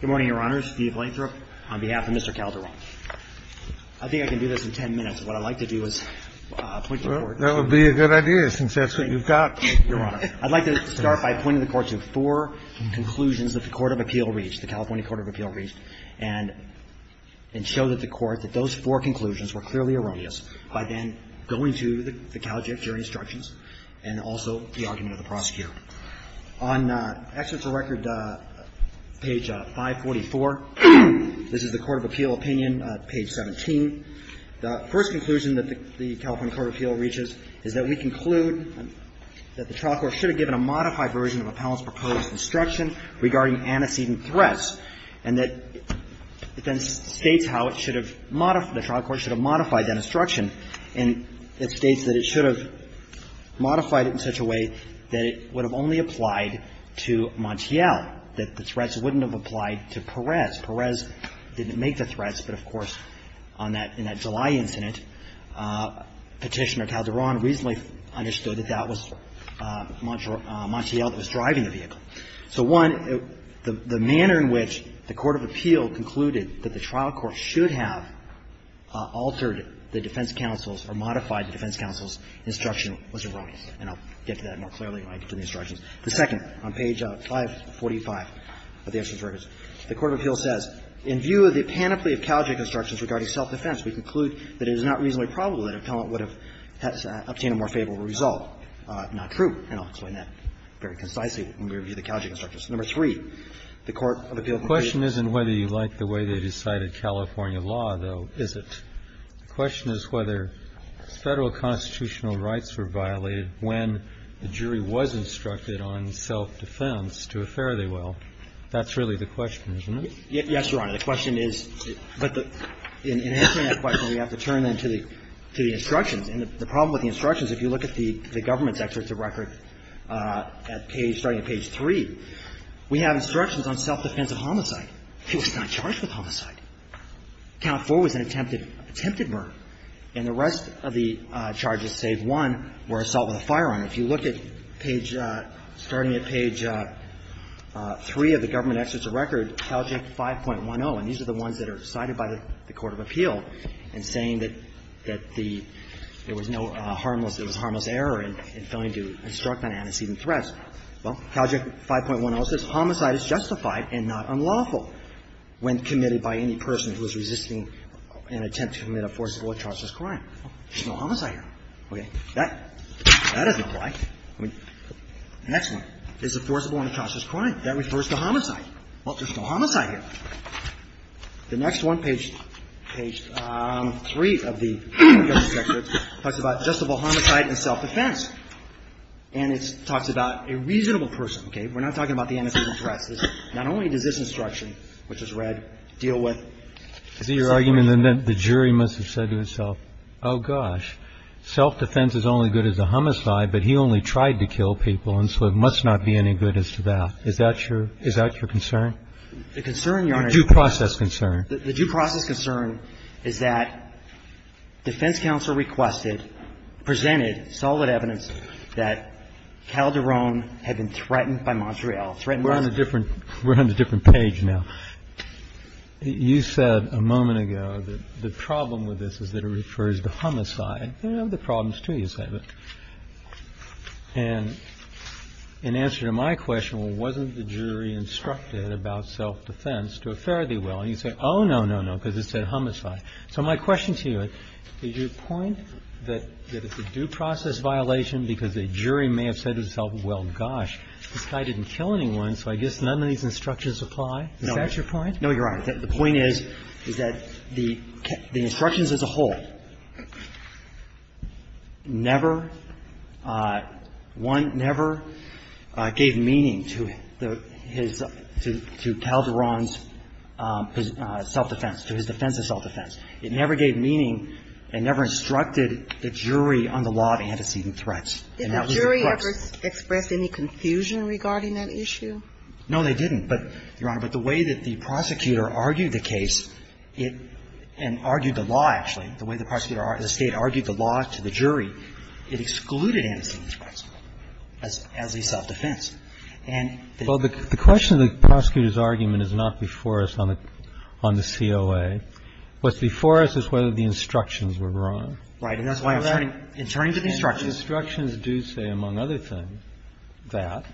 Good morning, Your Honors. Steve Lathrop on behalf of Mr. Calderon. I think I can do this in 10 minutes. What I'd like to do is point to the Court. That would be a good idea, since that's what you've got, Your Honor. I'd like to start by pointing the Court to four conclusions that the Court of Appeal reached, the California Court of Appeal reached, and show that the Court, that those four conclusions were clearly erroneous by then going to the Cal Jury Instructions and also the argument of the prosecutor. On Exeter's record, page 544, this is the Court of Appeal opinion, page 17. The first conclusion that the California Court of Appeal reaches is that we conclude that the trial court should have given a modified version of Appellant's proposed instruction regarding antecedent threats, and that it then states how it should have modified, the trial court should have modified that instruction, and it states that it should have modified it in such a way that it would have only applied to Montiel, that the threats wouldn't have applied to Perez. Perez didn't make the threats, but, of course, on that, in that July incident, Petitioner Calderon reasonably understood that that was Montiel that was driving the vehicle. So, one, the manner in which the Court of Appeal concluded that the trial court should have altered the defense counsel's or modified the defense counsel's instruction was erroneous, and I'll get to that more clearly when I get to the instructions. The second, on page 545 of the Exeter's records, the Court of Appeal says, in view of the panoply of Cal Jury Instructions regarding self-defense, we conclude that it is not reasonably probable that Appellant would have obtained a more favorable result. Not true. And I'll explain that very concisely when we review the Cal Jury Instructions. Number three, the Court of Appeal concluded that the Cal Jury Instructions should have been modified. And I'll get to that more clearly when I get to the instructions. And number five, the Court of Appeal concluded that the Cal Jury Instructions were violated when the jury was instructed on self-defense to a fairly well. That's really the question, isn't it? Yes, Your Honor. The question is, but the – in answering that question, we have to turn then to the instructions. And the problem with the instructions, if you look at the government's Exeter's record at page – starting at page 3, we have instructions on self-defense of homicide. He was not charged with homicide. Count 4 was an attempted murder. And the rest of the charges, save one, were assault with a firearm. If you look at page – starting at page 3 of the government Exeter's record, Cal Jury 5.10, and these are the ones that are cited by the Court of Appeal in saying that the – there was no harmless – there was harmless error in failing to instruct on antecedent threats. Well, Cal Jury 5.10 says, Homicide is justified and not unlawful when committed by any person who is resisting an attempt to commit a forcible or atrocious crime. There's no homicide here. Okay. That doesn't apply. I mean, the next one is a forcible or atrocious crime. That refers to homicide. Well, there's no homicide here. The next one, page – page 3 of the government Exeter, talks about justifiable homicide and self-defense. And it talks about a reasonable person. Okay. We're not talking about the antecedent threats. Not only does this instruction, which is red, deal with – Is it your argument then that the jury must have said to itself, oh, gosh, self-defense is only good as a homicide, but he only tried to kill people, and so it must not be any good as to that. Is that your – is that your concern? The concern, Your Honor – The due process concern. The due process concern is that defense counsel requested, presented solid evidence that Calderon had been threatened by Montreal, threatened by – We're on a different – we're on a different page now. You said a moment ago that the problem with this is that it refers to homicide. There are other problems, too, you said. And in answer to my question, well, wasn't the jury instructed about self-defense to a fare-thee-well? And you said, oh, no, no, no, because it said homicide. So my question to you, is your point that it's a due process violation because a jury may have said to itself, well, gosh, this guy didn't kill anyone, so I guess none of these instructions apply? Is that your point? No, Your Honor. The point is, is that the instructions as a whole never – one never gave meaning to the – his – to Calderon's self-defense, to his defense of self-defense. It never gave meaning and never instructed the jury on the law of antecedent And that was the crux. Did the jury ever express any confusion regarding that issue? No, they didn't. But, Your Honor, but the way that the prosecutor argued the case, it – and argued the law, actually, the way the prosecutor – the State argued the law to the jury, it excluded antecedents, for example, as a self-defense. And the – Well, the question of the prosecutor's argument is not before us on the COA. What's before us is whether the instructions were wrong. And that's why I'm turning to the instructions. The instructions do say, among other things, that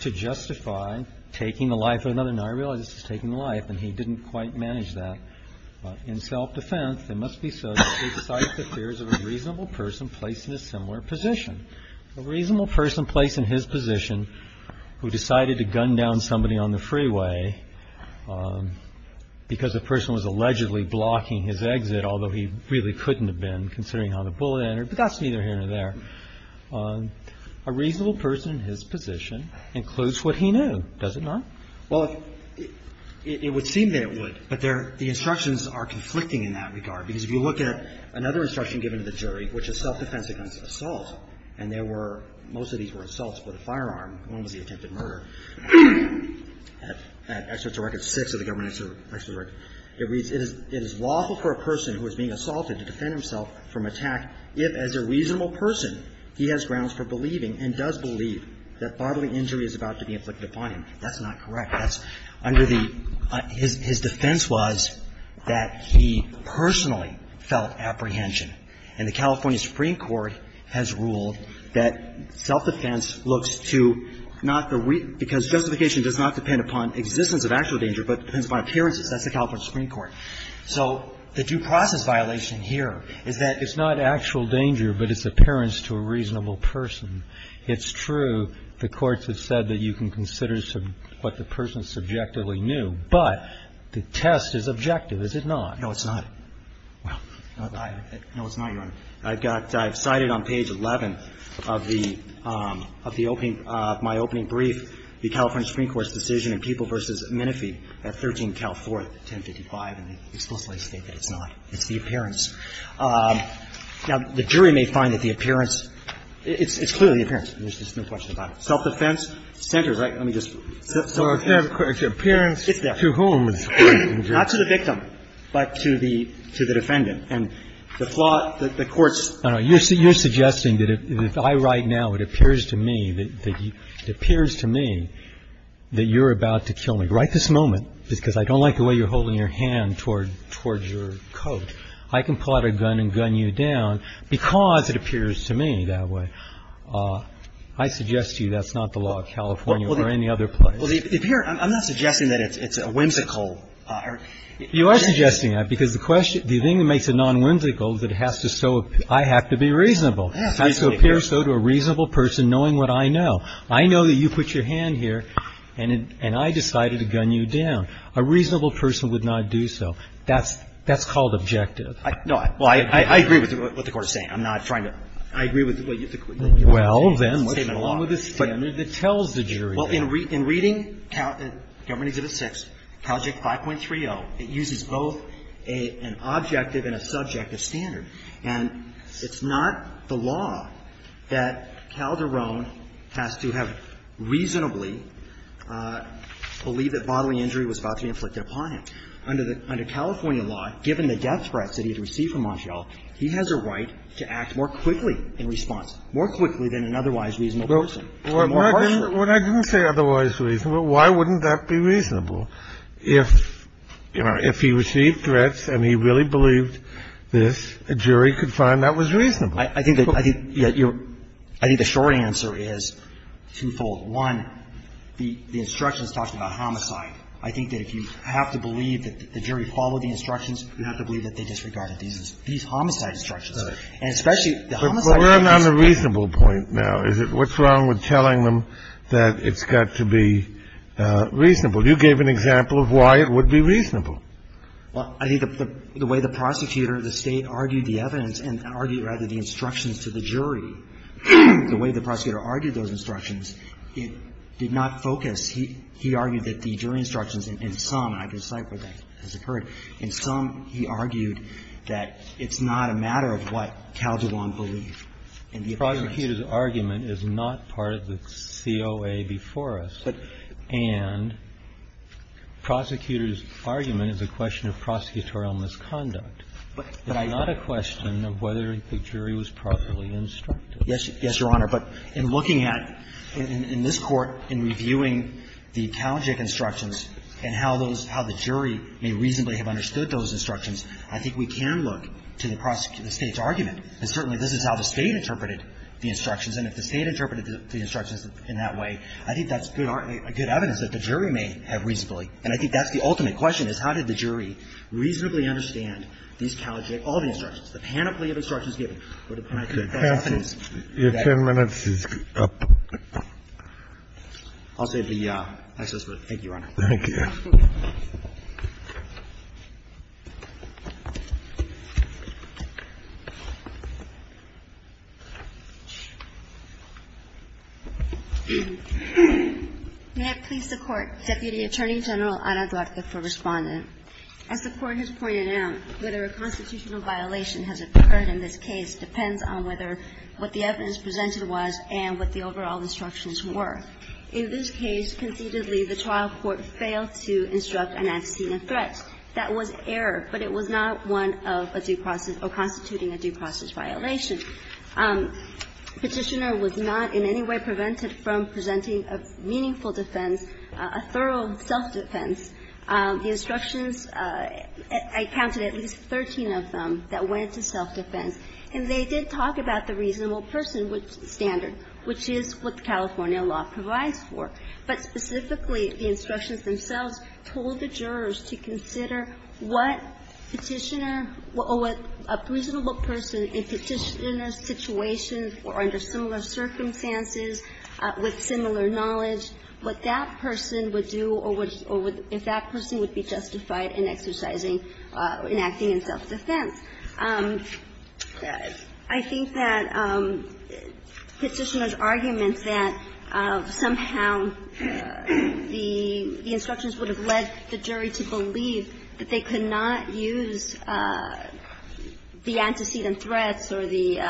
to justify taking the life of another – now, I realize this is taking the life, and he didn't quite manage that. In self-defense, it must be said to cite the fears of a reasonable person placed in a similar position. A reasonable person placed in his position who decided to gun down somebody on the freeway because the person was allegedly blocking his exit, although he really didn't want to be there. A reasonable person in his position includes what he knew, does it not? Well, it would seem that it would. But there – the instructions are conflicting in that regard. Because if you look at another instruction given to the jury, which is self-defense against assault, and there were – most of these were assaults with a firearm. One was the attempted murder. At Excerpt to Record 6 of the Government Excerpt to Record, it reads, That's not correct. That's under the – his defense was that he personally felt apprehension. And the California Supreme Court has ruled that self-defense looks to not the – because justification does not depend upon existence of actual danger, but depends upon appearances. That's the California Supreme Court. So the due process violation here is that it's not actual danger, but it's appearance to a reasonable person. It's true the courts have said that you can consider what the person subjectively knew, but the test is objective, is it not? No, it's not. No, it's not, Your Honor. I've got – I've cited on page 11 of the – of the opening – of my opening brief the California Supreme Court's decision in People v. Minifee at 13 Cal 4, 1055 and they explicitly state that it's not. It's the appearance. Now, the jury may find that the appearance – it's clearly the appearance. There's no question about it. Self-defense centers, right? Let me just – Appearance to whom? Not to the victim, but to the defendant. And the flaw that the courts – No, no. You're suggesting that if I write now, it appears to me that you're about to kill me. If I write this moment, because I don't like the way you're holding your hand toward your coat, I can pull out a gun and gun you down because it appears to me that way. I suggest to you that's not the law of California or any other place. Well, the appearance – I'm not suggesting that it's a whimsical – You are suggesting that because the question – the thing that makes it non-whimsical is that it has to so – I have to be reasonable. I have to appear so to a reasonable person knowing what I know. I know that you put your hand here and I decided to gun you down. A reasonable person would not do so. That's called objective. No. Well, I agree with what the Court is saying. I'm not trying to – I agree with what you – Well, then what's wrong with the standard that tells the jury that? Well, in reading Cal – Government Exhibit 6, Calject 5.30, it uses both an objective and a subjective standard. And it's not the law that Calderon has to have reasonably believed that bodily injury was about to be inflicted upon him. Under the – under California law, given the death threats that he had received from Montiel, he has a right to act more quickly in response, more quickly than an otherwise reasonable person. When I didn't say otherwise reasonable, why wouldn't that be reasonable? If, you know, if he received threats and he really believed this, a jury could find that was reasonable. I think that you're – I think the short answer is twofold. One, the instructions talk about homicide. I think that if you have to believe that the jury followed the instructions, you have to believe that they disregarded these homicide instructions. And especially the homicide – But we're on the reasonable point now, is it? What's wrong with telling them that it's got to be reasonable? You gave an example of why it would be reasonable. Well, I think the way the prosecutor, the State, argued the evidence and argued rather the instructions to the jury, the way the prosecutor argued those instructions, it did not focus. He argued that the jury instructions in some, and I can cite where that has occurred, in some he argued that it's not a matter of what Calderon believed. The prosecutor's argument is not part of the COA before us. And prosecutor's argument is a question of prosecutorial misconduct. It's not a question of whether the jury was properly instructed. Yes, Your Honor. But in looking at, in this Court, in reviewing the Talgic instructions and how those – how the jury may reasonably have understood those instructions, I think we can look to the State's argument. And certainly this is how the State interpreted the instructions, and if the State And I think that's the ultimate question, is how did the jury reasonably understand these Talgic, all the instructions, the panoply of instructions given, or the panoply of instructions that the State interpreted. Your 10 minutes is up. I'll save the extra time. Thank you, Your Honor. Thank you. May I please support Deputy Attorney General Anadarka for responding? As the Court has pointed out, whether a constitutional violation has occurred in this case depends on whether what the evidence presented was and what the overall instructions were. In this case, concededly, the trial court failed to instruct an axiom of threat. That was error, but it was not one of a due process or constituting a due process violation. Petitioner was not in any way prevented from presenting a meaningful defense, a thorough self-defense. The instructions, I counted at least 13 of them that went to self-defense. And they did talk about the reasonable person standard, which is what California law provides for. But specifically, the instructions themselves told the jurors to consider what Petitioner or what a reasonable person in Petitioner's situation or under similar circumstances with similar knowledge, what that person would do or would or if that person would be justified in exercising, in acting in self-defense. I think that Petitioner's argument that somehow the instructions would have led the jury to believe that they could not use the antecedent threats or the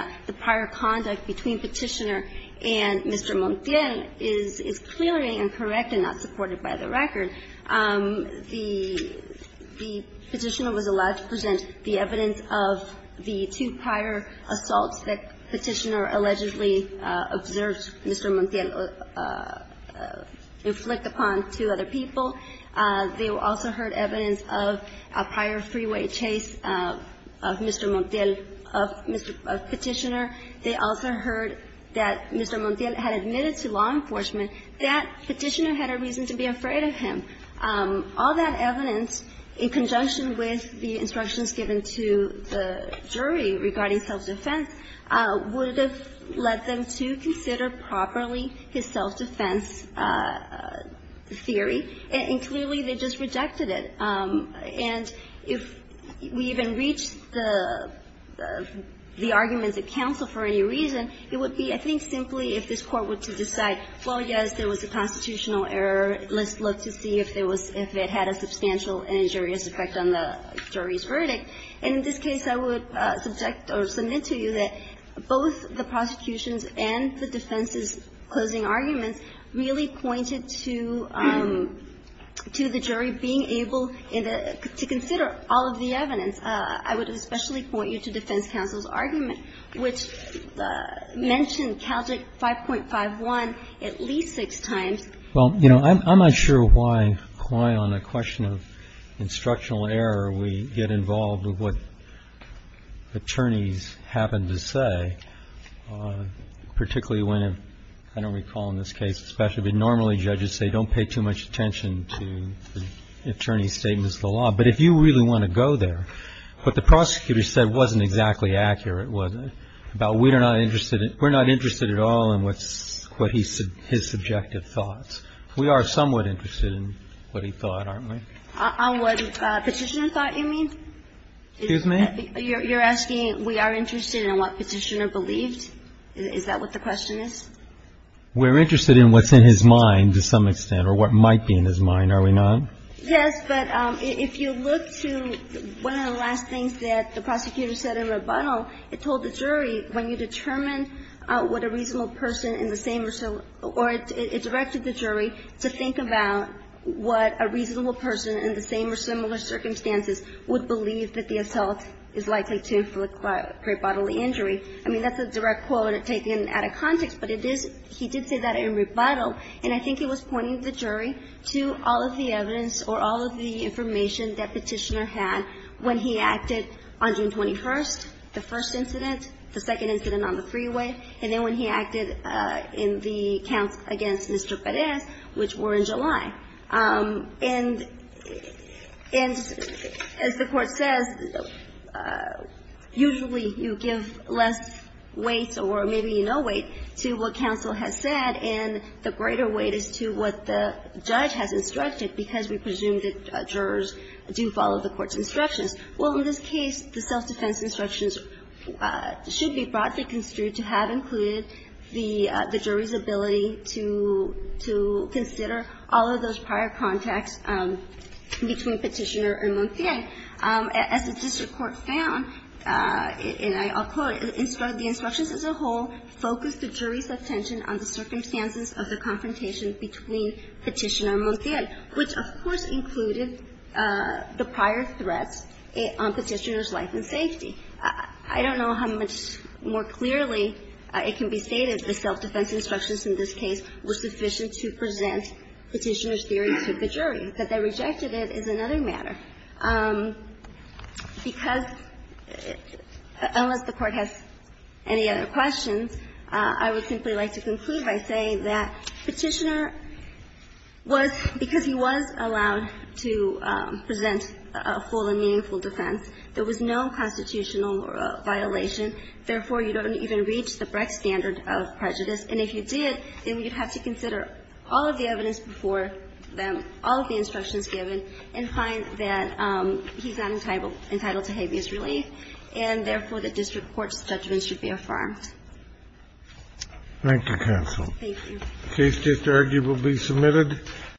prior conduct between Petitioner and Mr. Montiel is clearly incorrect and not supported by the record. The Petitioner was allowed to present the evidence of the two prior assaults that Petitioner allegedly observed Mr. Montiel inflict upon two other people. They also heard evidence of a prior freeway chase of Mr. Montiel, of Petitioner. They also heard that Mr. Montiel had admitted to law enforcement that Petitioner had a reason to be afraid of him. All that evidence, in conjunction with the instructions given to the jury regarding self-defense, would have led them to consider properly his self-defense theory. And clearly, they just rejected it. And if we even reach the arguments at counsel for any reason, it would be, I think, simply if this Court were to decide, well, yes, there was a constitutional error. Let's look to see if there was – if it had a substantial and injurious effect on the jury's verdict. And in this case, I would subject or submit to you that both the prosecution's and the defense's closing arguments really pointed to the jury being able to consider all of the evidence. I would especially point you to defense counsel's argument, which mentioned CALJIC 5.51 at least six times. Well, you know, I'm not sure why, on a question of instructional error, we get involved with what attorneys happen to say, particularly when, I don't recall in this case especially, but normally judges say don't pay too much attention to the attorney's statements of the law. But if you really want to go there, what the prosecutor said wasn't exactly accurate, was it? About we're not interested at all in his subjective thoughts. We are somewhat interested in what he thought, aren't we? On what Petitioner thought, you mean? Excuse me? You're asking we are interested in what Petitioner believed? Is that what the question is? We're interested in what's in his mind to some extent or what might be in his mind, are we not? Yes, but if you look to one of the last things that the prosecutor said in rebuttal, it told the jury when you determine what a reasonable person in the same or similar or it directed the jury to think about what a reasonable person in the same or similar circumstances would believe that the adult is likely to inflict great bodily injury. I mean, that's a direct quote taken out of context, but it is he did say that in rebuttal, and I think it was pointing the jury to all of the evidence or all of the information that Petitioner had when he acted on June 21st, the first incident, the second incident on the freeway, and then when he acted in the counts against Mr. Perez, which were in July. And as the Court says, usually you give less weight or maybe no weight to what counsel has said and the greater weight is to what the judge has instructed, because we presume that jurors do follow the Court's instructions. Well, in this case, the self-defense instructions should be broadly construed to have included the jury's ability to consider all of those prior contacts between Petitioner and Montiel. As the district court found, and I'll quote, the instructions as a whole focused the jury's attention on the circumstances of the confrontation between Petitioner and Montiel, which, of course, included the prior threats on Petitioner's life and safety. I don't know how much more clearly it can be stated the self-defense instructions in this case were sufficient to present Petitioner's theory to the jury. That they rejected it is another matter, because unless the Court has any other questions, I would simply like to conclude by saying that Petitioner was, because he was allowed to present a full and meaningful defense, there was no constitutional violation. Therefore, you don't even reach the Brecht standard of prejudice. And if you did, then you'd have to consider all of the evidence before them, all of the instructions given, and find that he's not entitled to habeas relief, and therefore, the district court's judgment should be affirmed. Thank you, counsel. Thank you. The case is arguably submitted.